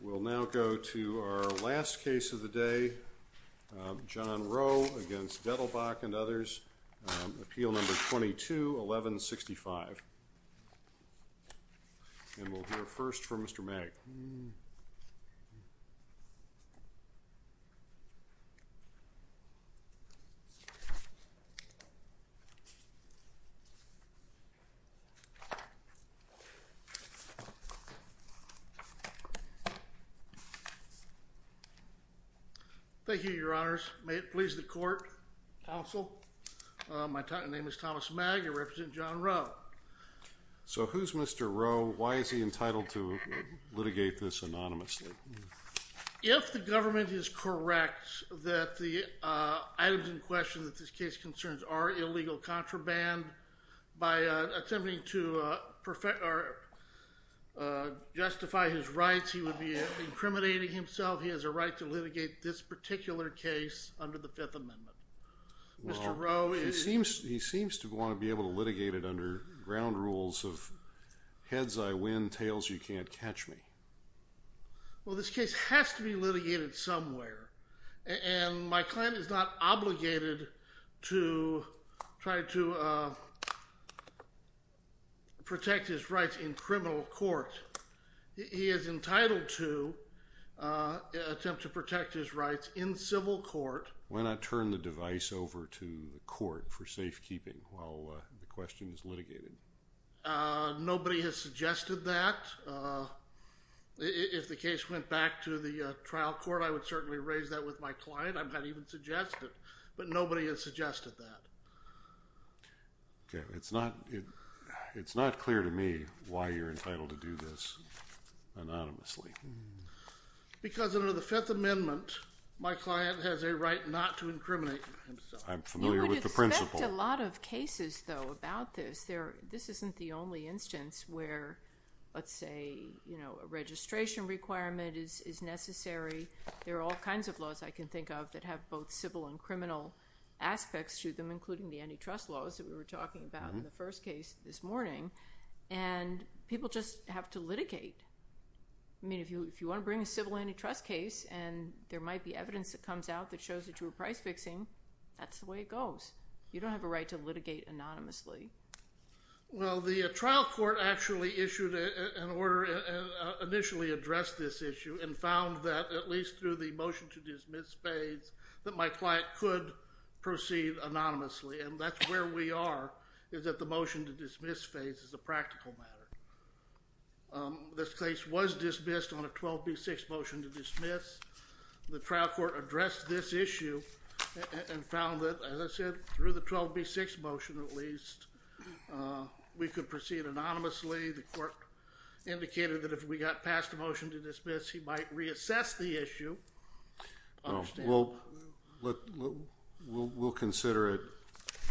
We'll now go to our last case of the day, John Roe v. Dettelbach and others, Appeal Thank you, your honors. May it please the court, counsel. My name is Thomas Magg. I represent John Roe. So who's Mr. Roe? Why is he entitled to litigate this anonymously? If the government is correct that the items in question that this case concerns are illegal contraband, by attempting to justify his rights, he would be incriminating himself. He has a right to litigate this particular case under the Fifth Amendment. Mr. Roe... He seems to want to be able to litigate it under ground rules of heads I win, tails you can't catch me. Well, this case has to be litigated somewhere. And my client is not obligated to try to protect his rights in criminal court. He is entitled to attempt to protect his rights in civil court. Why not turn the device over to the court for safekeeping while the question is litigated? Nobody has suggested that. If the case went back to the trial court, I would certainly raise that with my client. I'm not even suggested, but nobody has suggested that. Okay, it's not clear to me why you're entitled to do this anonymously. Because under the Fifth Amendment, my client has a right not to incriminate himself. I'm familiar with the principle. You would expect a lot of cases, though, about this. This isn't the registration requirement is necessary. There are all kinds of laws I can think of that have both civil and criminal aspects to them, including the antitrust laws that we were talking about in the first case this morning. And people just have to litigate. I mean, if you want to bring a civil antitrust case and there might be evidence that comes out that shows that you were price fixing, that's the way it goes. You don't have a right to litigate anonymously. Well, the trial court actually issued an order and initially addressed this issue and found that, at least through the motion to dismiss phase, that my client could proceed anonymously. And that's where we are, is that the motion to dismiss phase is a practical matter. This case was dismissed on a 12b6 motion to dismiss. The trial court addressed this issue and found that, as I said, through the 12b6 motion at least, we could proceed anonymously. The court indicated that if we got passed a motion to dismiss, he might reassess the issue. We'll consider it.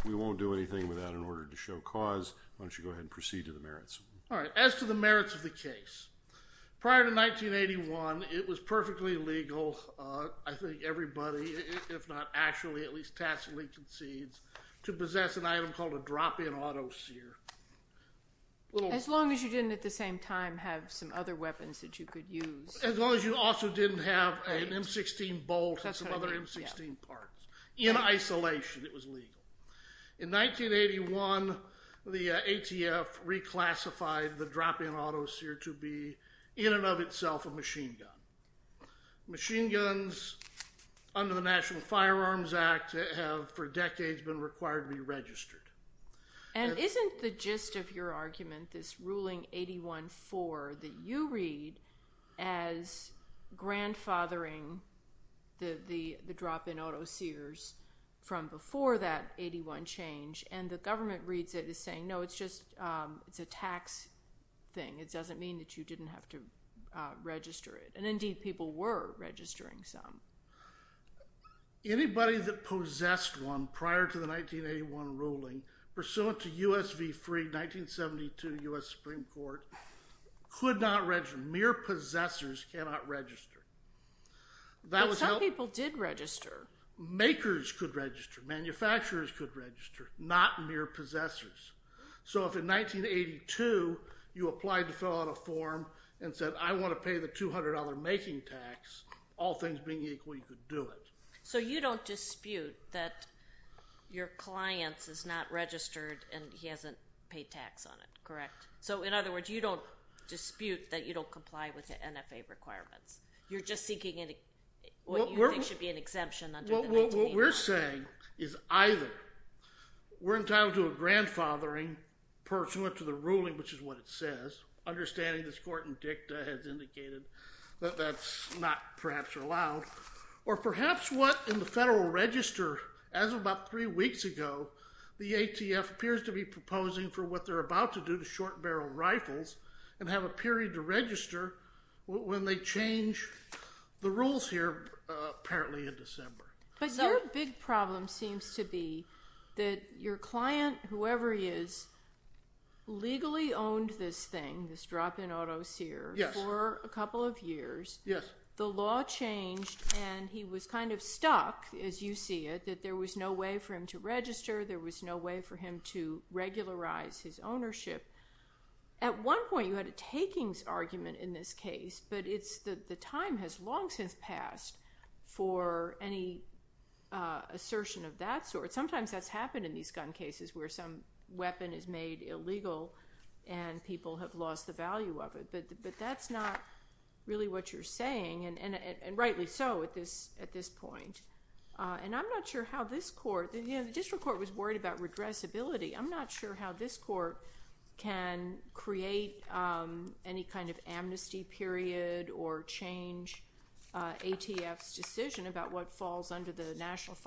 We won't do anything with that in order to show cause. Why don't you go ahead and proceed to the merits. All right, as to the merits of the case. Prior to 1981, it was perfectly legal, I think everybody, if not actually, at least tacitly concedes, to possess an item called a drop-in auto sear. As long as you didn't, at the same time, have some other weapons that you could use. As long as you also didn't have an M16 bolt and some other M16 parts. In isolation, it was legal. In 1981, the ATF reclassified the drop-in auto sear to be, in and of itself, a machine gun. Machine guns, under the National Firearms Act, have, for decades, been required to be registered. And isn't the gist of your argument, this ruling 81-4, that you read as grandfathering the drop-in auto sears from before that 81 change, and the government reads it as saying, no, it's just, it's a tax thing. It doesn't mean that you didn't have to register it. And indeed, people were registering some. Anybody that possessed one prior to the 1981 ruling, pursuant to US v. Freed, 1972, U.S. Supreme Court, could not register. Mere possessors cannot register. Some people did register. Makers could register. Manufacturers could register. Not in 1982, you applied to fill out a form and said, I want to pay the $200 making tax, all things being equal, you could do it. So you don't dispute that your client is not registered and he hasn't paid tax on it, correct? So in other words, you don't dispute that you don't comply with the NFA requirements. You're just seeking what you think should be an exemption under the 1981. What we're saying is, either we're entitled to a grandfathering pursuant to the ruling, which is what it says, understanding this court in dicta has indicated that that's not perhaps allowed, or perhaps what, in the federal register, as of about three weeks ago, the ATF appears to be proposing for what they're about to do to short barrel rifles and have a period to register when they change the rules here, apparently in December. But your big problem seems to be that your client, whoever he is, legally owned this thing, this drop-in auto seer, for a couple of years. The law changed and he was kind of stuck, as you see it, that there was no way for him to register, there was no way for him to regularize his ownership. At one point you had a serious argument in this case, but the time has long since passed for any assertion of that sort. Sometimes that's happened in these gun cases where some weapon is made illegal and people have lost the value of it. But that's not really what you're saying, and rightly so at this point. And I'm not sure how this court, any kind of amnesty period or change ATF's decision about what falls under the National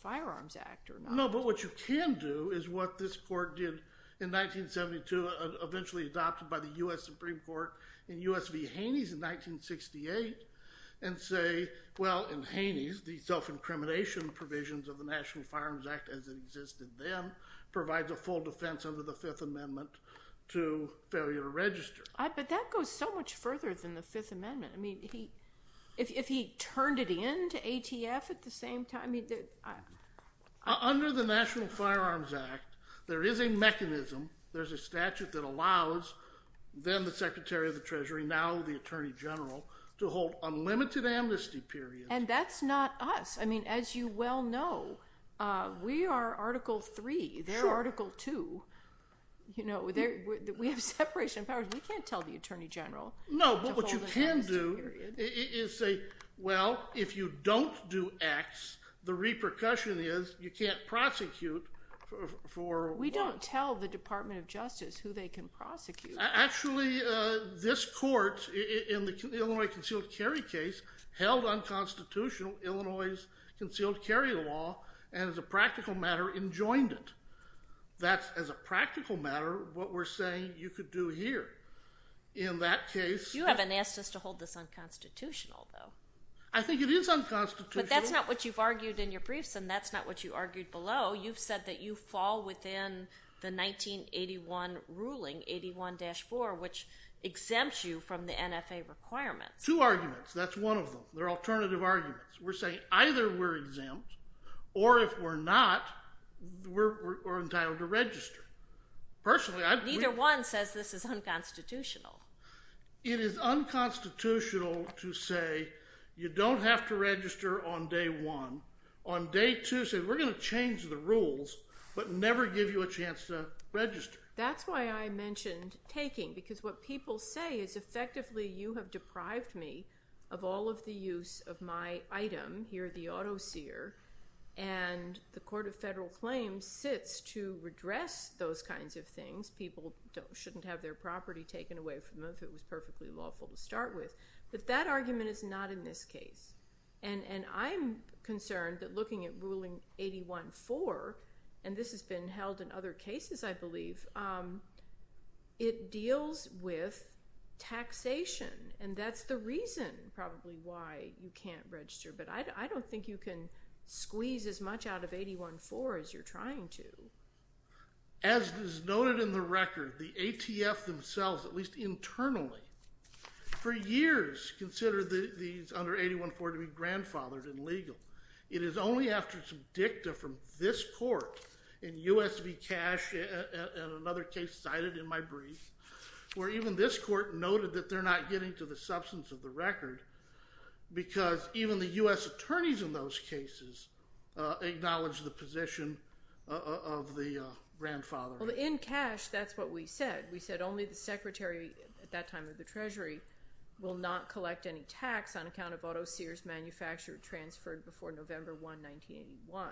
Firearms Act. No, but what you can do is what this court did in 1972, eventually adopted by the U.S. Supreme Court in U.S. v. Haney's in 1968, and say, well, in Haney's the self-incrimination provisions of the National Firearms Act as it existed then provides a full defense under the Fifth Amendment to failure to register. But that goes so much further than the Fifth Amendment. I mean, if he turned it into ATF at the same time, he did. Under the National Firearms Act, there is a mechanism, there's a statute that allows then the Secretary of the Treasury, now the Attorney General, to hold unlimited amnesty periods. And that's not us. I mean, as you well know, we are Article III, they're powers. We can't tell the Attorney General to hold an amnesty period. No, but what you can do is say, well, if you don't do X, the repercussion is you can't prosecute for... We don't tell the Department of Justice who they can prosecute. Actually, this court in the Illinois concealed carry case held unconstitutional Illinois's concealed carry law, and as a practical matter enjoined it. That's as a practical matter what we're saying you could do here. In that case... You haven't asked us to hold this unconstitutional, though. I think it is unconstitutional. But that's not what you've argued in your briefs, and that's not what you argued below. You've said that you fall within the 1981 ruling, 81-4, which exempts you from the NFA requirements. Two arguments. That's one of them. They're alternative Neither one says this is unconstitutional. It is unconstitutional to say you don't have to register on day one. On day two, say we're going to change the rules, but never give you a chance to register. That's why I mentioned taking, because what people say is effectively you have deprived me of all of the use of my item here, the auto seer, and the Court of Federal Claims sits to people shouldn't have their property taken away from them if it was perfectly lawful to start with. But that argument is not in this case, and I'm concerned that looking at ruling 81-4, and this has been held in other cases, I believe, it deals with taxation, and that's the reason probably why you can't register. But I don't think you can squeeze as much out of 81-4 as you're trying to. As is noted in the record, the ATF themselves, at least internally, for years considered these under 81-4 to be grandfathered and legal. It is only after some dicta from this court in U.S. v. Cash, and another case cited in my brief, where even this court noted that they're not getting to the substance of the record, because even the U.S. attorneys in those cases acknowledge the position of the grandfather. Well, in Cash, that's what we said. We said only the Secretary, at that time of the Treasury, will not collect any tax on account of auto seers manufactured transferred before November 1, 1981.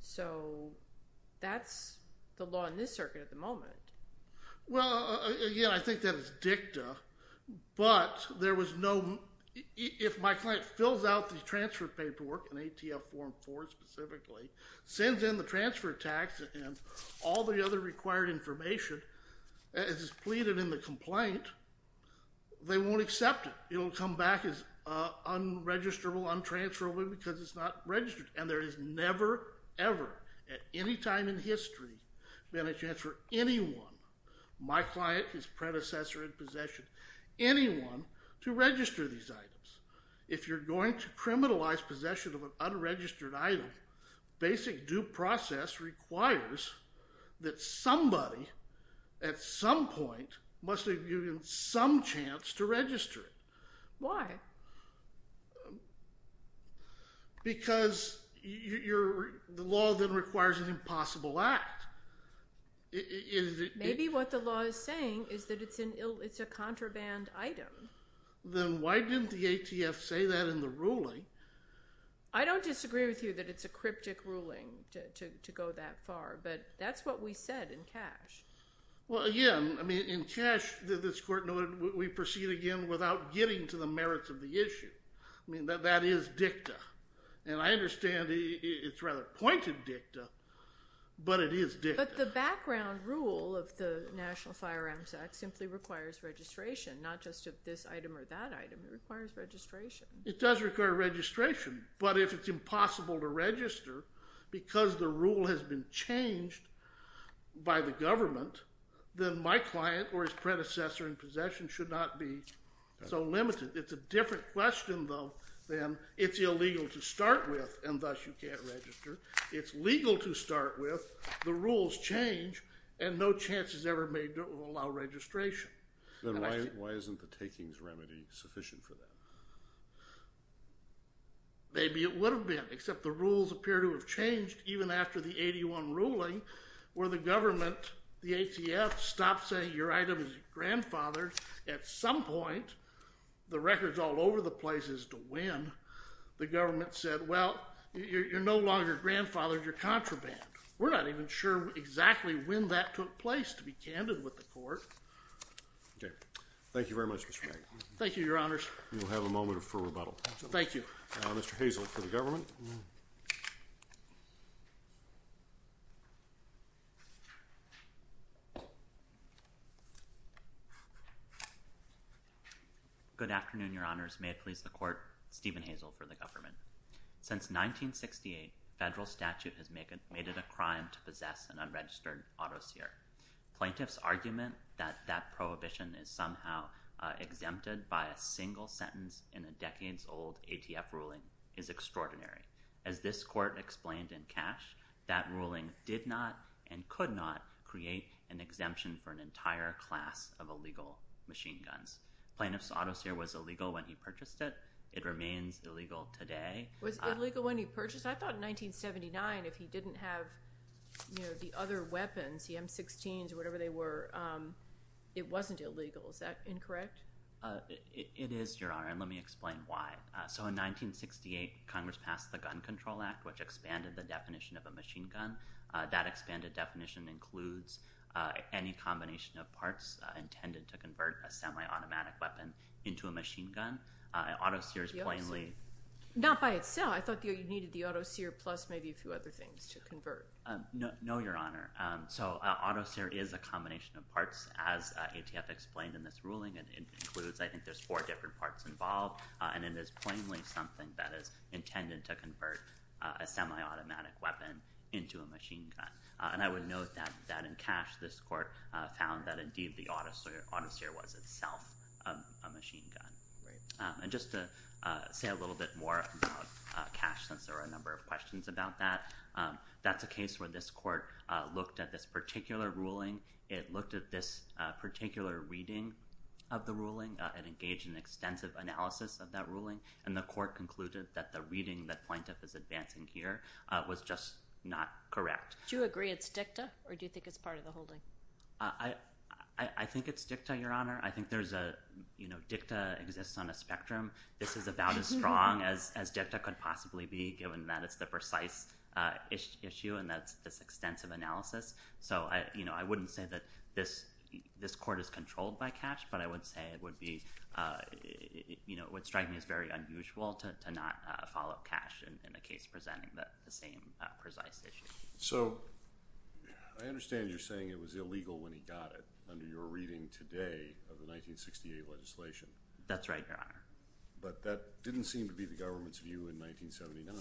So that's the law in this circuit at the moment. Well, again, I think that is dicta, but there was no—if my client fills out the transfer paperwork, and ATF form 4 specifically, sends in the transfer tax and all the other required information as is pleaded in the complaint, they won't accept it. It'll come back as unregisterable, untransferable, because it's not registered. And there has never, ever, at any time in history, been a chance for anyone—my client, his predecessor in possession—anyone to register these items. If you're going to criminalize possession of an unregistered item, basic due process requires that somebody, at some point, must have given some chance to register it. Why? Because the law then requires an impossible act. Maybe what the law is saying is that it's a contraband item. Then why didn't the ATF say that in the ruling? I don't disagree with you that it's a cryptic ruling to go that far, but that's what we said in Cash. Well, again, I mean, in Cash, this Court noted, we proceed again without getting to the merits of the issue. I mean, that is dicta. And I understand it's rather pointed dicta, but it is dicta. But the background rule of the National Firearms Act simply requires registration, not just of this item or that item. It requires registration. It does require registration, but if it's impossible to register because the rule has been changed by the government, then my client or his predecessor in possession should not be so limited. It's a different question, though, than it's illegal to start with and thus you can't register. It's legal to start with, the rules change, and no chance is ever made to allow registration. Then why isn't the takings remedy sufficient for that? Maybe it would have been, except the rules appear to have changed even after the 81 ruling, where the government, the ATF, stopped saying your item is grandfathered. At some point, the record's all over the place as to when the government said, well, you're no longer grandfathered, you're contraband. We're not even sure exactly when that took place, to be candid with the court. Okay. Thank you very much, Mr. Wright. Thank you, Your Honors. We will have a moment for rebuttal. Thank you. Mr. Hazel for the government. Good afternoon, Your Honors. May it please the Court, Stephen Hazel for the government. Since 1968, federal statute has made it a crime to possess an unregistered auto seer. Plaintiff's argument that that prohibition is somehow exempted by a single sentence in a decades-old ATF ruling is extraordinary. As this court explained in Cash, that ruling did not and could not create an exemption for an entire class of illegal machine guns. Plaintiff's auto seer was illegal when he purchased it. It remains illegal today. Was it illegal when he purchased it? I thought in 1979, if he didn't have the other weapons, the M16s or whatever they were, it wasn't illegal. Is that incorrect? It is, Your Honor, and let me explain why. So in 1968, Congress passed the Gun Control Act, which expanded the definition of a machine gun. That expanded definition includes any combination of parts intended to convert a semi-automatic weapon into a machine gun. Auto seers plainly— Not by itself. I thought you needed the auto seer plus maybe a few other things to convert. No, Your Honor. So auto seer is a combination of parts, as ATF explained in this ruling. It includes—I think there's four different parts involved, and it is plainly something that is intended to convert a semi-automatic weapon into a machine gun. And I would note that in Cash, this court found that indeed the auto seer was itself a machine gun. And just to say a little bit more about Cash, since there were a number of questions about that, that's a case where this court looked at this particular ruling. It looked at this particular reading of the ruling and engaged in extensive analysis of that ruling, and the court concluded that the reading that plaintiff is advancing here was just not correct. Do you agree it's dicta, or do you think it's part of the holding? I think it's dicta, Your Honor. I think there's a—dicta exists on a spectrum. This is about as issue, and that's this extensive analysis. So I wouldn't say that this court is controlled by Cash, but I would say it would be—it would strike me as very unusual to not follow Cash in a case presenting the same precise issue. So I understand you're saying it was illegal when he got it under your reading today of the 1968 legislation. That's right, Your Honor. But that didn't seem to be the government's view in 1979.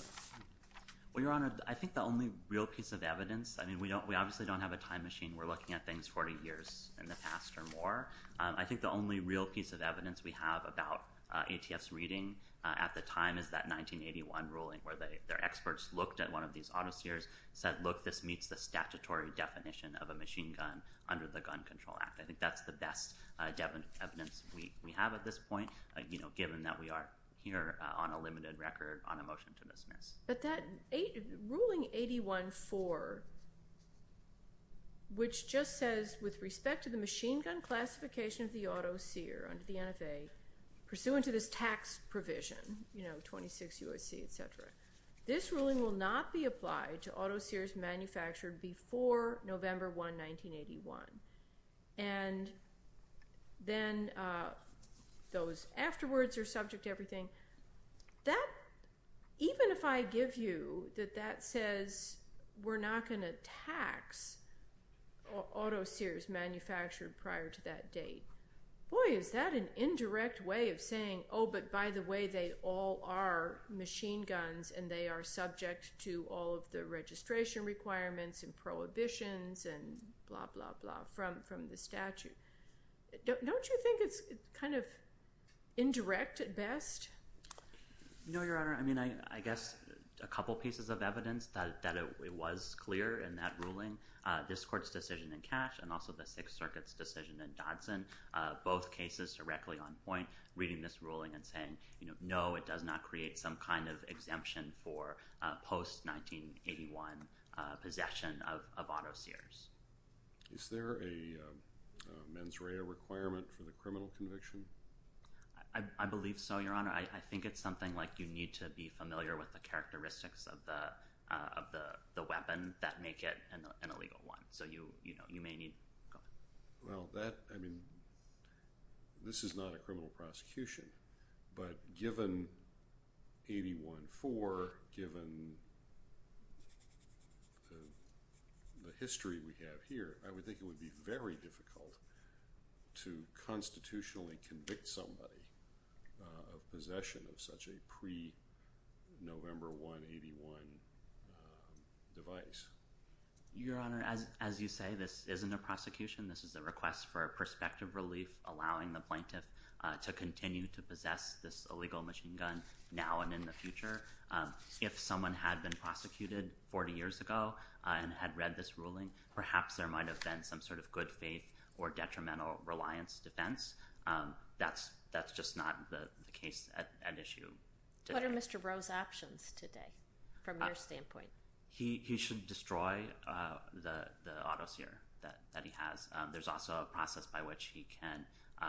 Well, Your Honor, I think the only real piece of evidence—I mean, we obviously don't have a time machine. We're looking at things 40 years in the past or more. I think the only real piece of evidence we have about ATF's reading at the time is that 1981 ruling where their experts looked at one of these auto sears, said, look, this meets the statutory definition of a machine gun under the Gun Control Act. I think that's the best evidence we have at this point, given that we are here on a limited record on a motion to dismiss. But that ruling 81-4, which just says, with respect to the machine gun classification of the auto sear under the NFA, pursuant to this tax provision, you know, 26 U.S.C., etc., this ruling will not be applied to auto sears manufactured before November 1, 1981. And then those afterwards are subject to everything. That—even if I give you that that says we're not going to tax auto sears manufactured prior to that date, boy, is that an indirect way of saying, oh, but by the way, they all are machine guns and they are subject to all of the registration requirements and prohibitions and blah, blah, blah from the statute. Don't you think it's kind of indirect at best? No, Your Honor. I mean, I guess a couple pieces of evidence that it was clear in that ruling, this Court's decision in Cash and also the Sixth Circuit's decision in Dodson, both cases directly on point, reading this ruling and saying, you know, no, it does not create some kind of exemption for post-1981 possession of auto sears. Is there a mens rea requirement for the criminal conviction? I believe so, Your Honor. I think it's something like you need to be familiar with the characteristics of the weapon that make it an illegal one. So, you know, you may need—go ahead. Well, that, I mean, this is not a criminal prosecution, but given 814, given the history we have here, I would think it would be very difficult to constitutionally convict somebody of possession of such a pre-November 181 device. Your Honor, as you say, this isn't a prosecution. This is a request for prospective relief, allowing the plaintiff to continue to possess this illegal machine gun now and in the future. If someone had been prosecuted 40 years ago and had read this ruling, perhaps there might have been some sort of good faith or detrimental reliance defense. That's just not the case at issue. What are Mr. Rowe's options today from your standpoint? He should destroy the auto sear that he has. There's also a process by which he can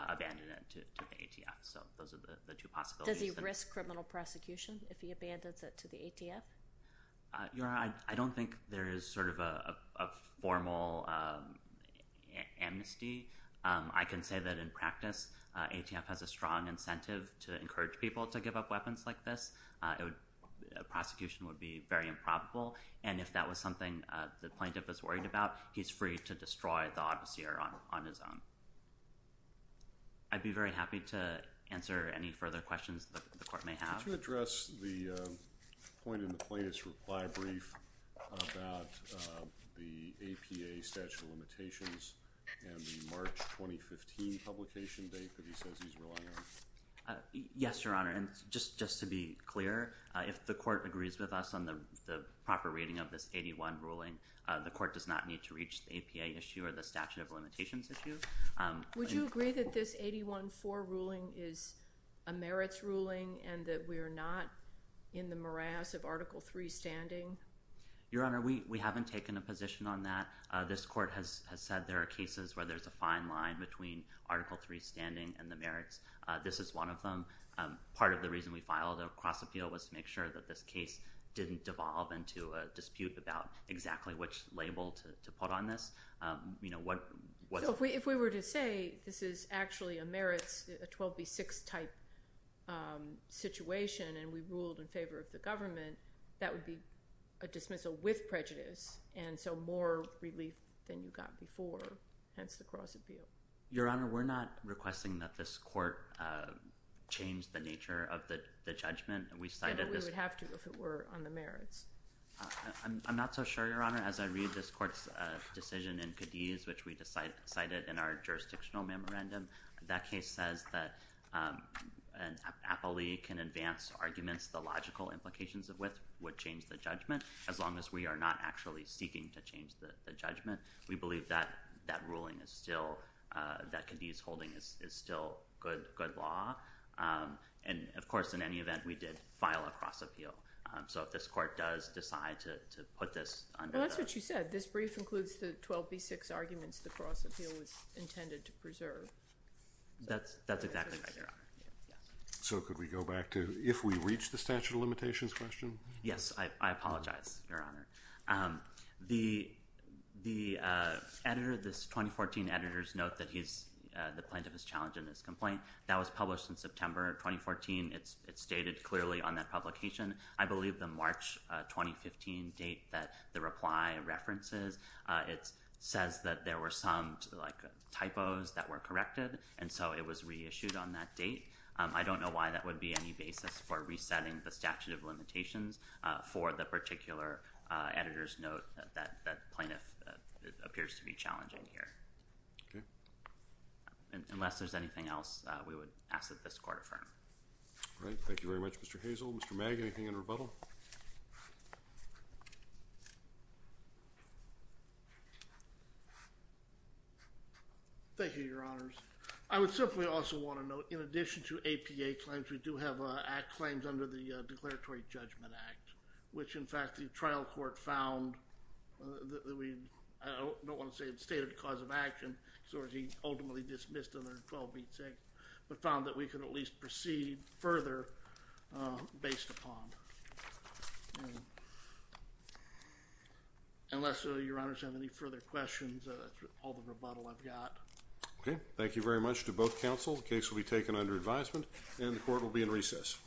abandon it to the ATF. So those are the two possibilities. Does he risk criminal prosecution if he abandons it to the ATF? Your Honor, I don't think there is sort of a formal amnesty. I can say that in practice, ATF has a strong incentive to encourage people to give up weapons like this. A prosecution would be very improbable. And if that was something the plaintiff is worried about, he's free to destroy the auto sear on his own. I'd be very happy to answer any further questions that the court may have. Could you address the point in the plaintiff's reply brief about the APA statute of limitations and the March 2015 publication date that he says he's relying on? Yes, Your Honor. And just to be clear, if the court agrees with us on the proper reading of this 81 ruling, the court does not need to reach the APA issue or the statute of limitations issue. Would you agree that this 81-4 ruling is a merits ruling and that we are not in the morass of Article III standing? Your Honor, we haven't taken a position on that. This court has said there are cases where there's a fine line between Article III standing and the merits. This is one of them. Part of the reason we filed a cross-appeal was to make sure that this case didn't devolve into a dispute about exactly which label to put on this. You know, what's... If we were to say this is actually a merits, a 12B6 type situation and we ruled in favor of the government, that would be a dismissal with prejudice and so more relief than you got before. It's the cross-appeal. Your Honor, we're not requesting that this court change the nature of the judgment. We cited this... We would have to if it were on the merits. I'm not so sure, Your Honor. As I read this court's decision in Cadiz, which we decided in our jurisdictional memorandum, that case says that an appellee can advance arguments the logical implications of which would change the judgment as long as we are not actually seeking to change the judgment. We believe that that ruling is still, that Cadiz holding is still good law. And of course, in any event, we did file a cross-appeal. So if this court does decide to put this under... Well, that's what you said. This brief includes the 12B6 arguments the cross-appeal was intended to preserve. That's exactly right, Your Honor. So could we go back to if we reach the statute of limitations question? Yes, I apologize, Your Honor. The editor, this 2014 editor's note that he's... The plaintiff is challenging his complaint. That was published in September 2014. It's stated clearly on that publication. I believe the March 2015 date that the reply references, it says that there were some typos that were corrected, and so it was reissued on that date. I don't know why that would be any basis for resetting the statute of limitations for the particular editor's note that the plaintiff appears to be challenging here. Okay. Unless there's anything else, we would ask that this court affirm. All right. Thank you very much, Mr. Hazel. Mr. Magg, anything in rebuttal? Thank you, Your Honors. I would simply also want to note, in addition to APA claims, we do have claims under the Declaratory Judgment Act, which, in fact, the trial court found that we... I don't want to say it's stated cause of action, so he ultimately dismissed under 12b6, but found that we could at least proceed further based upon. Unless, Your Honors, you have any further questions, that's all the rebuttal I've got. Okay. Thank you very much to both counsel. The case will be taken under advisement, and the court will be in recess.